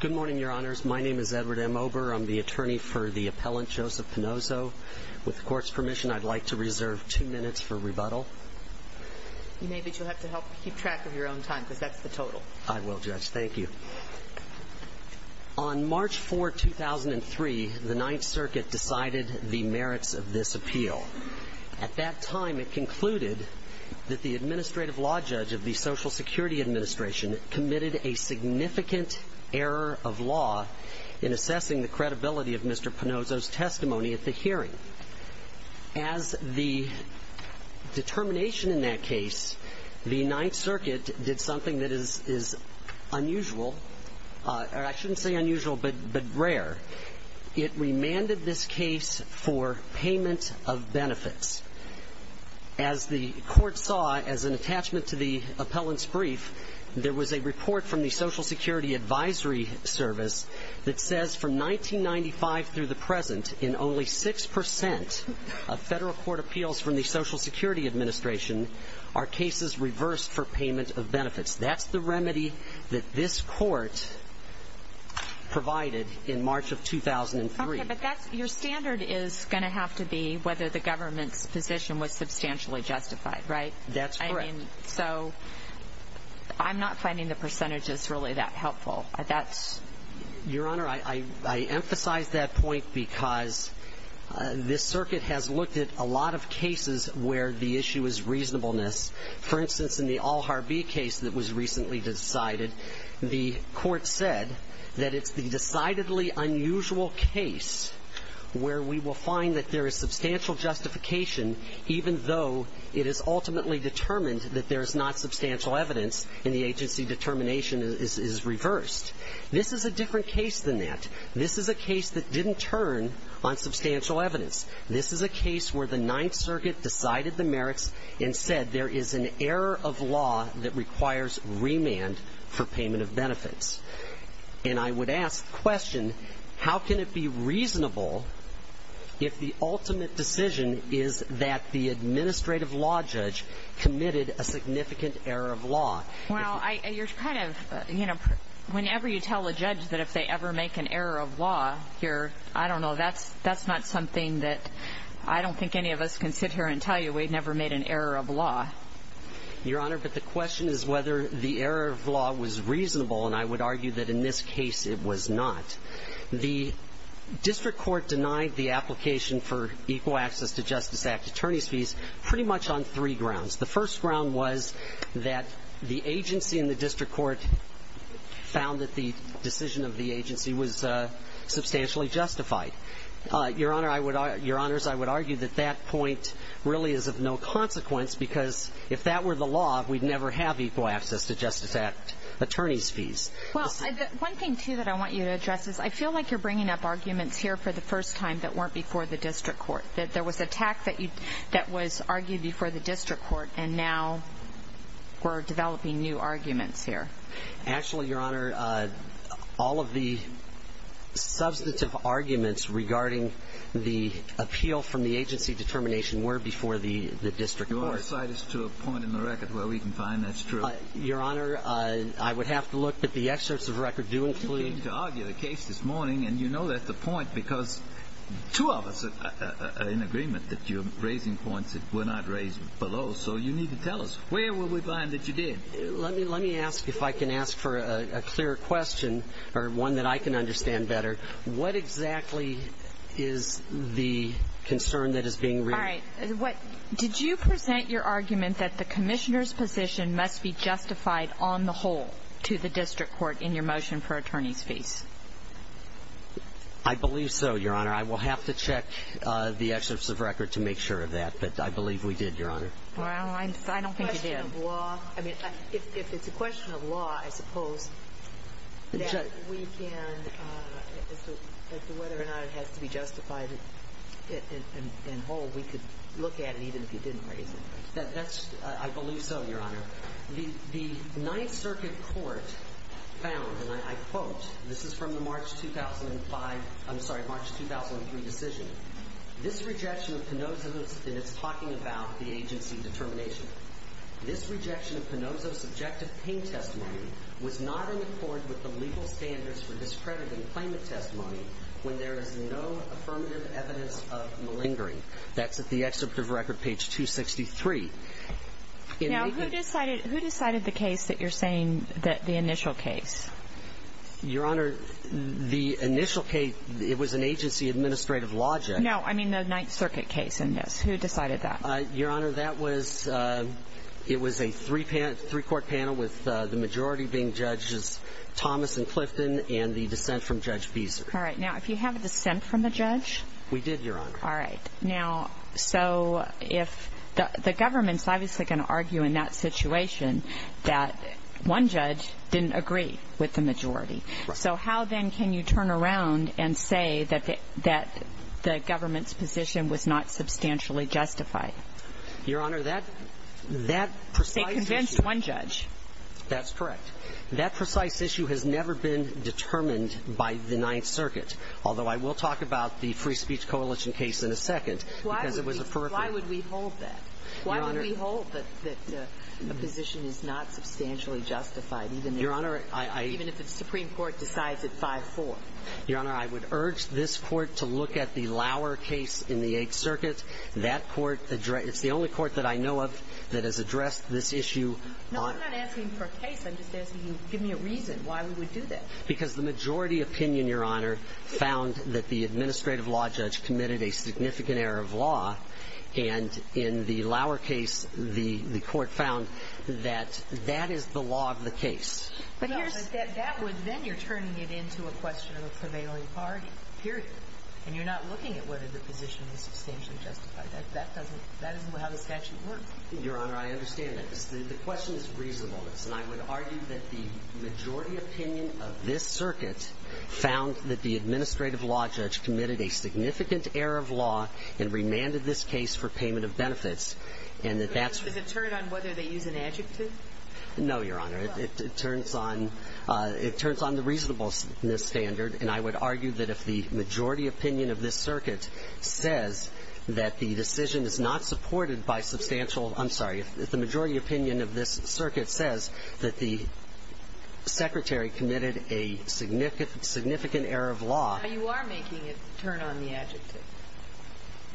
Good morning, Your Honors. My name is Edward M. Ober. I'm the attorney for the appellant Joseph Panozzo. With the court's permission, I'd like to reserve two minutes for rebuttal. Maybe you'll have to help keep track of your own time because that's the total. I will, Judge. Thank you. On March 4, 2003, the Ninth Circuit decided the merits of this appeal. At that time, it concluded that the Administrative Law Judge of the Social Security Administration committed a significant error of law in assessing the credibility of Mr. Panozzo's testimony at the hearing. As the determination in that case, the Ninth Circuit did something that is unusual, or I shouldn't say unusual, but rare. It remanded this case for payment of benefits. As the court saw as an appeal from the Social Security Advisory Service, it says from 1995 through the present, in only 6% of federal court appeals from the Social Security Administration are cases reversed for payment of benefits. That's the remedy that this court provided in March of 2003. Okay, but your standard is going to have to be whether the government's position was substantially justified, right? That's right. So, I'm not finding the percentages really that helpful. Your Honor, I emphasize that point because this circuit has looked at a lot of cases where the issue is reasonableness. For instance, in the Alharbee case that was recently decided, the court said that it's the decidedly unusual case where we will find that there is substantial justification, even though it is ultimately determined that there is not substantial evidence and the agency determination is reversed. This is a different case than that. This is a case that didn't turn on substantial evidence. This is a case where the Ninth Circuit decided the merits and said there is an error of law that requires remand for payment of benefits. And I would ask the question, how can it be reasonable if the ultimate decision is that the administrative law judge committed a significant error of law? Well, I – you're kind of, you know, whenever you tell a judge that if they ever make an error of law here, I don't know, that's not something that I don't think any of us can sit here and tell you we've never made an error of law. Your Honor, but the question is whether the error of law was reasonable, and I would argue that in this case it was not. The district court denied the application for Equal Access to Justice Act attorneys' fees pretty much on three grounds. The first ground was that the agency and the district court found that the decision of the agency was substantially justified. Your Honor, I would – Your Honors, I would argue that that point really is of no consequence because if that were the law, we'd never have Equal Access to Justice Act attorneys' fees. Well, one thing, too, that I want you to address is I feel like you're bringing up arguments here for the first time that weren't before the district court, that there was a tax that you – that was argued before the district court and now we're developing new arguments here. Actually, Your Honor, all of the substantive arguments regarding the appeal from the agency determination were before the district court. Your side is to a point in the I would have to look, but the excerpts of the record do include – You came to argue the case this morning, and you know that's the point because two of us are in agreement that you're raising points that were not raised below, so you need to tell us. Where were we blind that you did? Let me ask, if I can ask for a clear question, or one that I can understand better, what exactly is the concern that is being – All right. What – did you present your argument that the to the district court in your motion for attorney's fees? I believe so, Your Honor. I will have to check the excerpts of record to make sure of that, but I believe we did, Your Honor. Well, I don't think you did. The question of law – I mean, if it's a question of law, I suppose that we can – as to whether or not it has to be justified and whole, we could look at it even if you didn't raise it. That's – I believe that the court found, and I quote – this is from the March 2005 – I'm sorry, March 2003 decision. This rejection of Pinozzo's – and it's talking about the agency determination. This rejection of Pinozzo's subjective pain testimony was not in accord with the legal standards for discrediting claimant testimony when there is no affirmative evidence of malingering. That's at the excerpt of record, page 263. Now, who decided – who decided the case that you're saying that the initial case? Your Honor, the initial case, it was an agency administrative logic. No, I mean the Ninth Circuit case in this. Who decided that? Your Honor, that was – it was a three-court panel with the majority being Judges Thomas and Clifton and the dissent from Judge Beeser. All right. Now, if you have a dissent from the judge? We did, Your Honor. All right. Now, so if – the government's obviously going to argue in that situation that one judge didn't agree with the majority. So how then can you turn around and say that the government's position was not substantially justified? Your Honor, that precise issue – They convinced one judge. That's correct. That precise issue has never been determined by the Ninth Circuit, although I will talk about the Why would we hold that? Your Honor – Why would we hold that a position is not substantially justified even if – Your Honor, I – Even if the Supreme Court decides at 5-4? Your Honor, I would urge this Court to look at the Lauer case in the Eighth Circuit. That court – it's the only court that I know of that has addressed this issue on – No, I'm not asking for a case. I'm just asking you to give me a reason why we would do that. Because the majority opinion, Your Honor, found that the administrative law judge committed a significant error of law, and in the Lauer case, the – the court found that that is the law of the case. But here's – No, but that would – then you're turning it into a question of a prevailing bargain, period. And you're not looking at whether the position is substantially justified. That doesn't – that isn't how the statute works. Your Honor, I understand that. The question is reasonableness, and I would argue that the majority opinion of this circuit found that the administrative law judge committed a significant error of law and remanded this case for payment of benefits, and that that's – Does it turn on whether they use an adjective? No, Your Honor. It turns on – it turns on the reasonableness standard, and I would argue that if the majority opinion of this circuit says that the decision is not supported by substantial – I'm sorry. If the majority opinion of this circuit says that the secretary committed a significant – significant error of law – Now, you are making it turn on the adjective,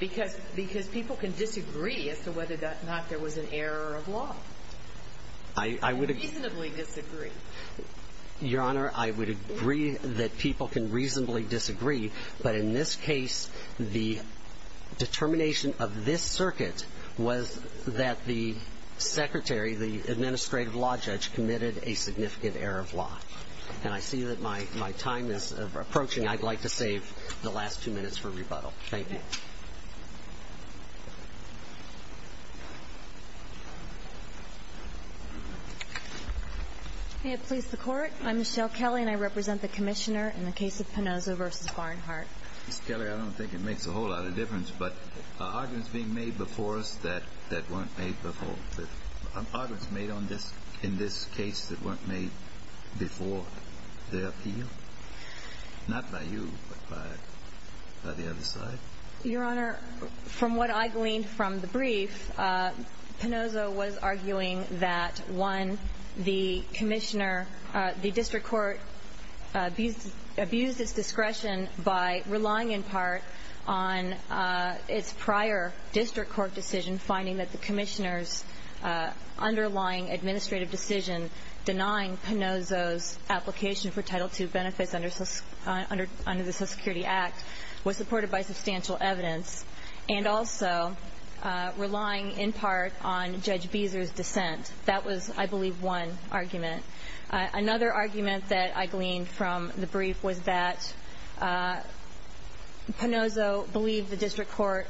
because – because people can disagree as to whether or not there was an error of law. I – I would – You can reasonably disagree. Your Honor, I would agree that people can reasonably disagree, but in this case, the determination of this circuit was that the secretary, the administrative law judge, committed a significant error of law. And I see that my – my time is approaching. I'd like to save the last two minutes for rebuttal. Thank you. May it please the Court. I'm Michelle Kelly, and I represent the Commissioner in the case of Pinozzo v. Barnhart. Miss Kelly, I don't think it makes a whole lot of difference, but arguments being made before us that – that weren't made before – arguments made on this – in this case that weren't made before the appeal – not by you, but by – by the other side? Your Honor, from what I gleaned from the brief, Pinozzo was arguing that, one, the Commissioner – the District Court abused – abused its discretion by relying in part on its prior District Court decision finding that the Commissioner's underlying administrative decision denying Pinozzo's application for Title II benefits under – under – under the Social Security Act was supported by substantial evidence, and also relying in part on Judge Beezer's dissent. That was, I believe, one argument. Another argument that I gleaned from the brief was that Pinozzo believed the District Court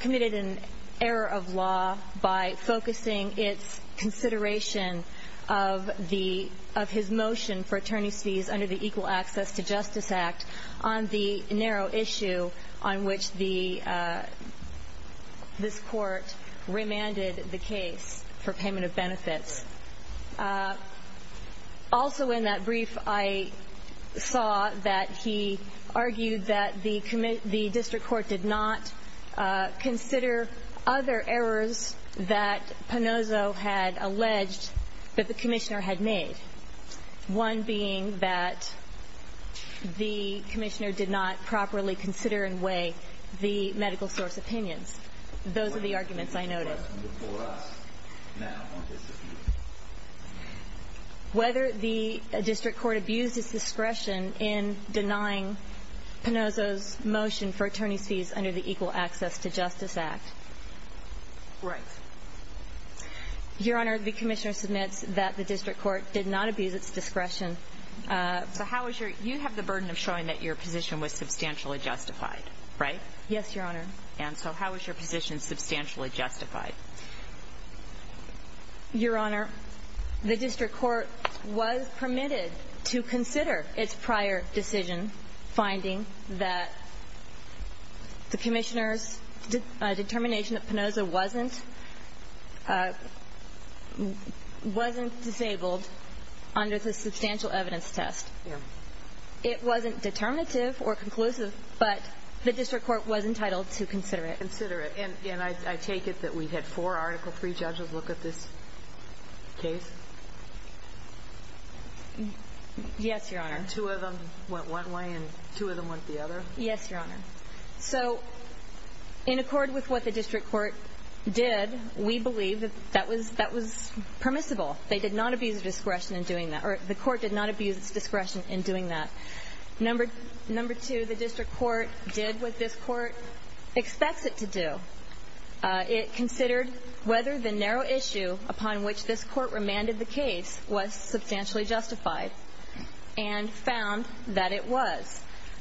committed an error of law by focusing its consideration of the – of his motion for attorney's fees under the Equal Access to Justice Act on the narrow issue on which the – this Court remanded the case for payment of benefits. Also in that brief, I saw that he argued that the – the District Court did not consider other errors that Pinozzo had alleged that the Commissioner had made, one being that the Commissioner did not properly consider and weigh the medical question before us now on this issue. Whether the District Court abused its discretion in denying Pinozzo's motion for attorney's fees under the Equal Access to Justice Act. Right. Your Honor, the Commissioner submits that the District Court did not abuse its discretion. So how is your – you have the burden of showing that your position was substantially justified, right? Yes, Your Honor. And so how is your position substantially justified? Your Honor, the District Court was permitted to consider its prior decision finding that the Commissioner's determination that Pinozzo wasn't – wasn't disabled under the substantial evidence test. It wasn't determinative or conclusive, but the District Court was entitled to consider it. Consider it. And I take it that we had four Article III judges look at this case? Yes, Your Honor. And two of them went one way and two of them went the other? Yes, Your Honor. So in accord with what the District Court did, we believe that that was – that was permissible. They did not abuse their discretion in doing that. Or the Court did not abuse its discretion in doing that. Number – number two, the District Court did what this Court expects it to do. It considered whether the narrow issue upon which this Court remanded the case was substantially justified and found that it was.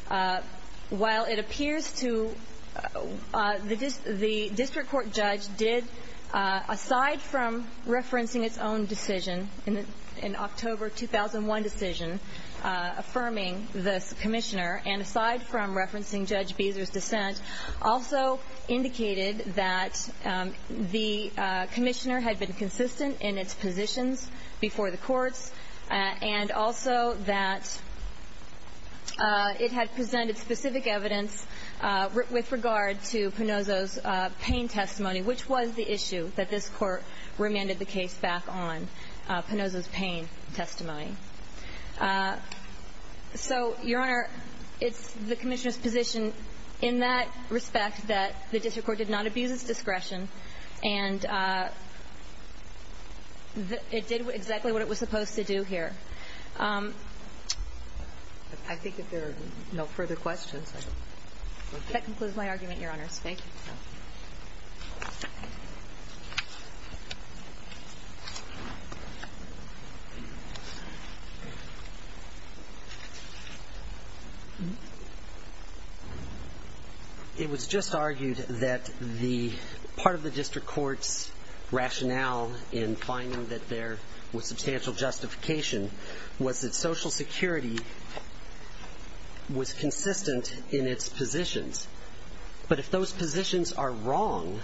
While it appears to – the District Court judge did, aside from referencing its own decision, in October 2001 decision, affirming the Commissioner and aside from referencing Judge Beezer's dissent, also indicated that the Commissioner had been consistent in its positions before the courts and also that it had presented specific evidence with regard to Pinozzo's pain testimony, which was the issue that this Court remanded the case back on, Pinozzo's pain testimony. So, Your Honor, it's the Commissioner's position in that respect that the District Court did not abuse its discretion and it did exactly what it was supposed to do here. I think if there are no further questions, I will conclude. That concludes my argument, Your Honors. Thank you. Thank you. It was just argued that the – part of the District Court's rationale in finding that there was substantial justification was that Social Security was consistent in its positions. But if those positions are wrong,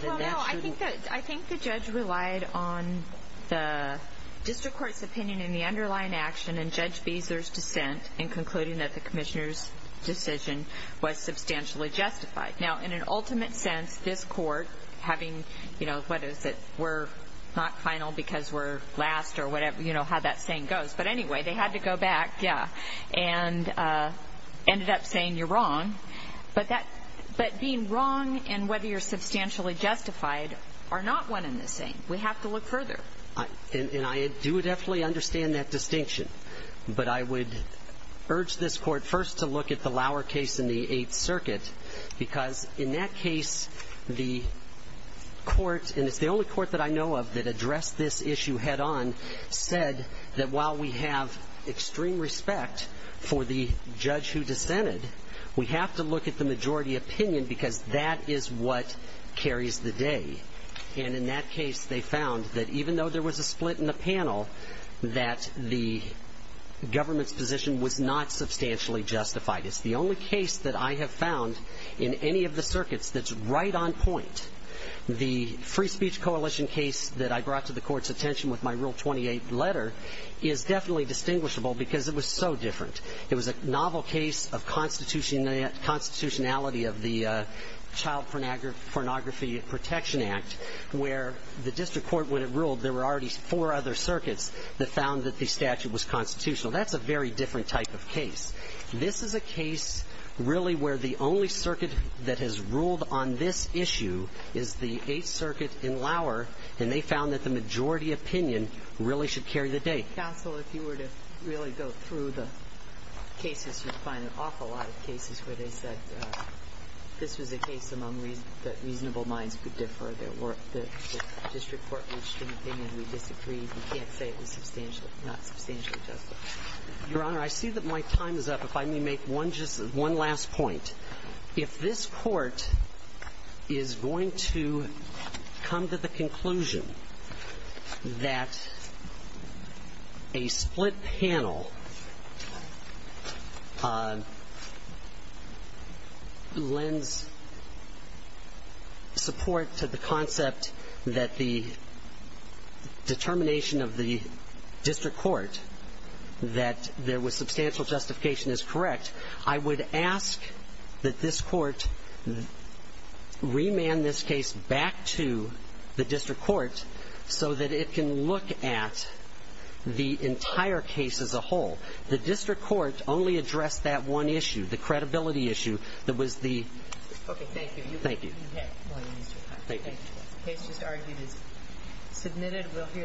then that shouldn't – I think the judge relied on the District Court's opinion in the underlying action and Judge Beezer's dissent in concluding that the Commissioner's decision was substantially justified. Now, in an ultimate sense, this Court having, you know, what is it, we're not final because we're last or whatever, you know, how that saying goes. But anyway, they had to go back, yeah, and ended up saying you're wrong. But that – but being wrong and whether you're substantially justified are not one and the same. We have to look further. And I do definitely understand that distinction. But I would urge this Court first to look at the Lauer case in the Eighth Circuit because in that case, the Court – and it's the only Court that I know head-on – said that while we have extreme respect for the judge who dissented, we have to look at the majority opinion because that is what carries the day. And in that case, they found that even though there was a split in the panel, that the government's position was not substantially justified. It's the only case that I have found in any of the circuits that's right on point. The Free Speech Coalition case that I brought to the Court's attention with my Rule 28 letter is definitely distinguishable because it was so different. It was a novel case of constitutionality of the Child Pornography Protection Act where the district court, when it ruled, there were already four other circuits that found that the statute was constitutional. That's a very different type of case. This is a case really where the only circuit that has ruled on this issue is the majority opinion, really should carry the day. Counsel, if you were to really go through the cases, you'd find an awful lot of cases where they said this was a case among that reasonable minds could differ, that the district court reached an opinion, we disagreed, we can't say it was substantially – not substantially justified. Your Honor, I see that my time is up. If I may make one just – one last point. If this Court is going to come to the conclusion that a split panel lends support to the concept that the determination of the district court that there was substantial justification is correct, I would ask that this Court remand this case back to the district court so that it can look at the entire case as a whole. The district court only addressed that one issue, the credibility issue, that was the Okay, thank you.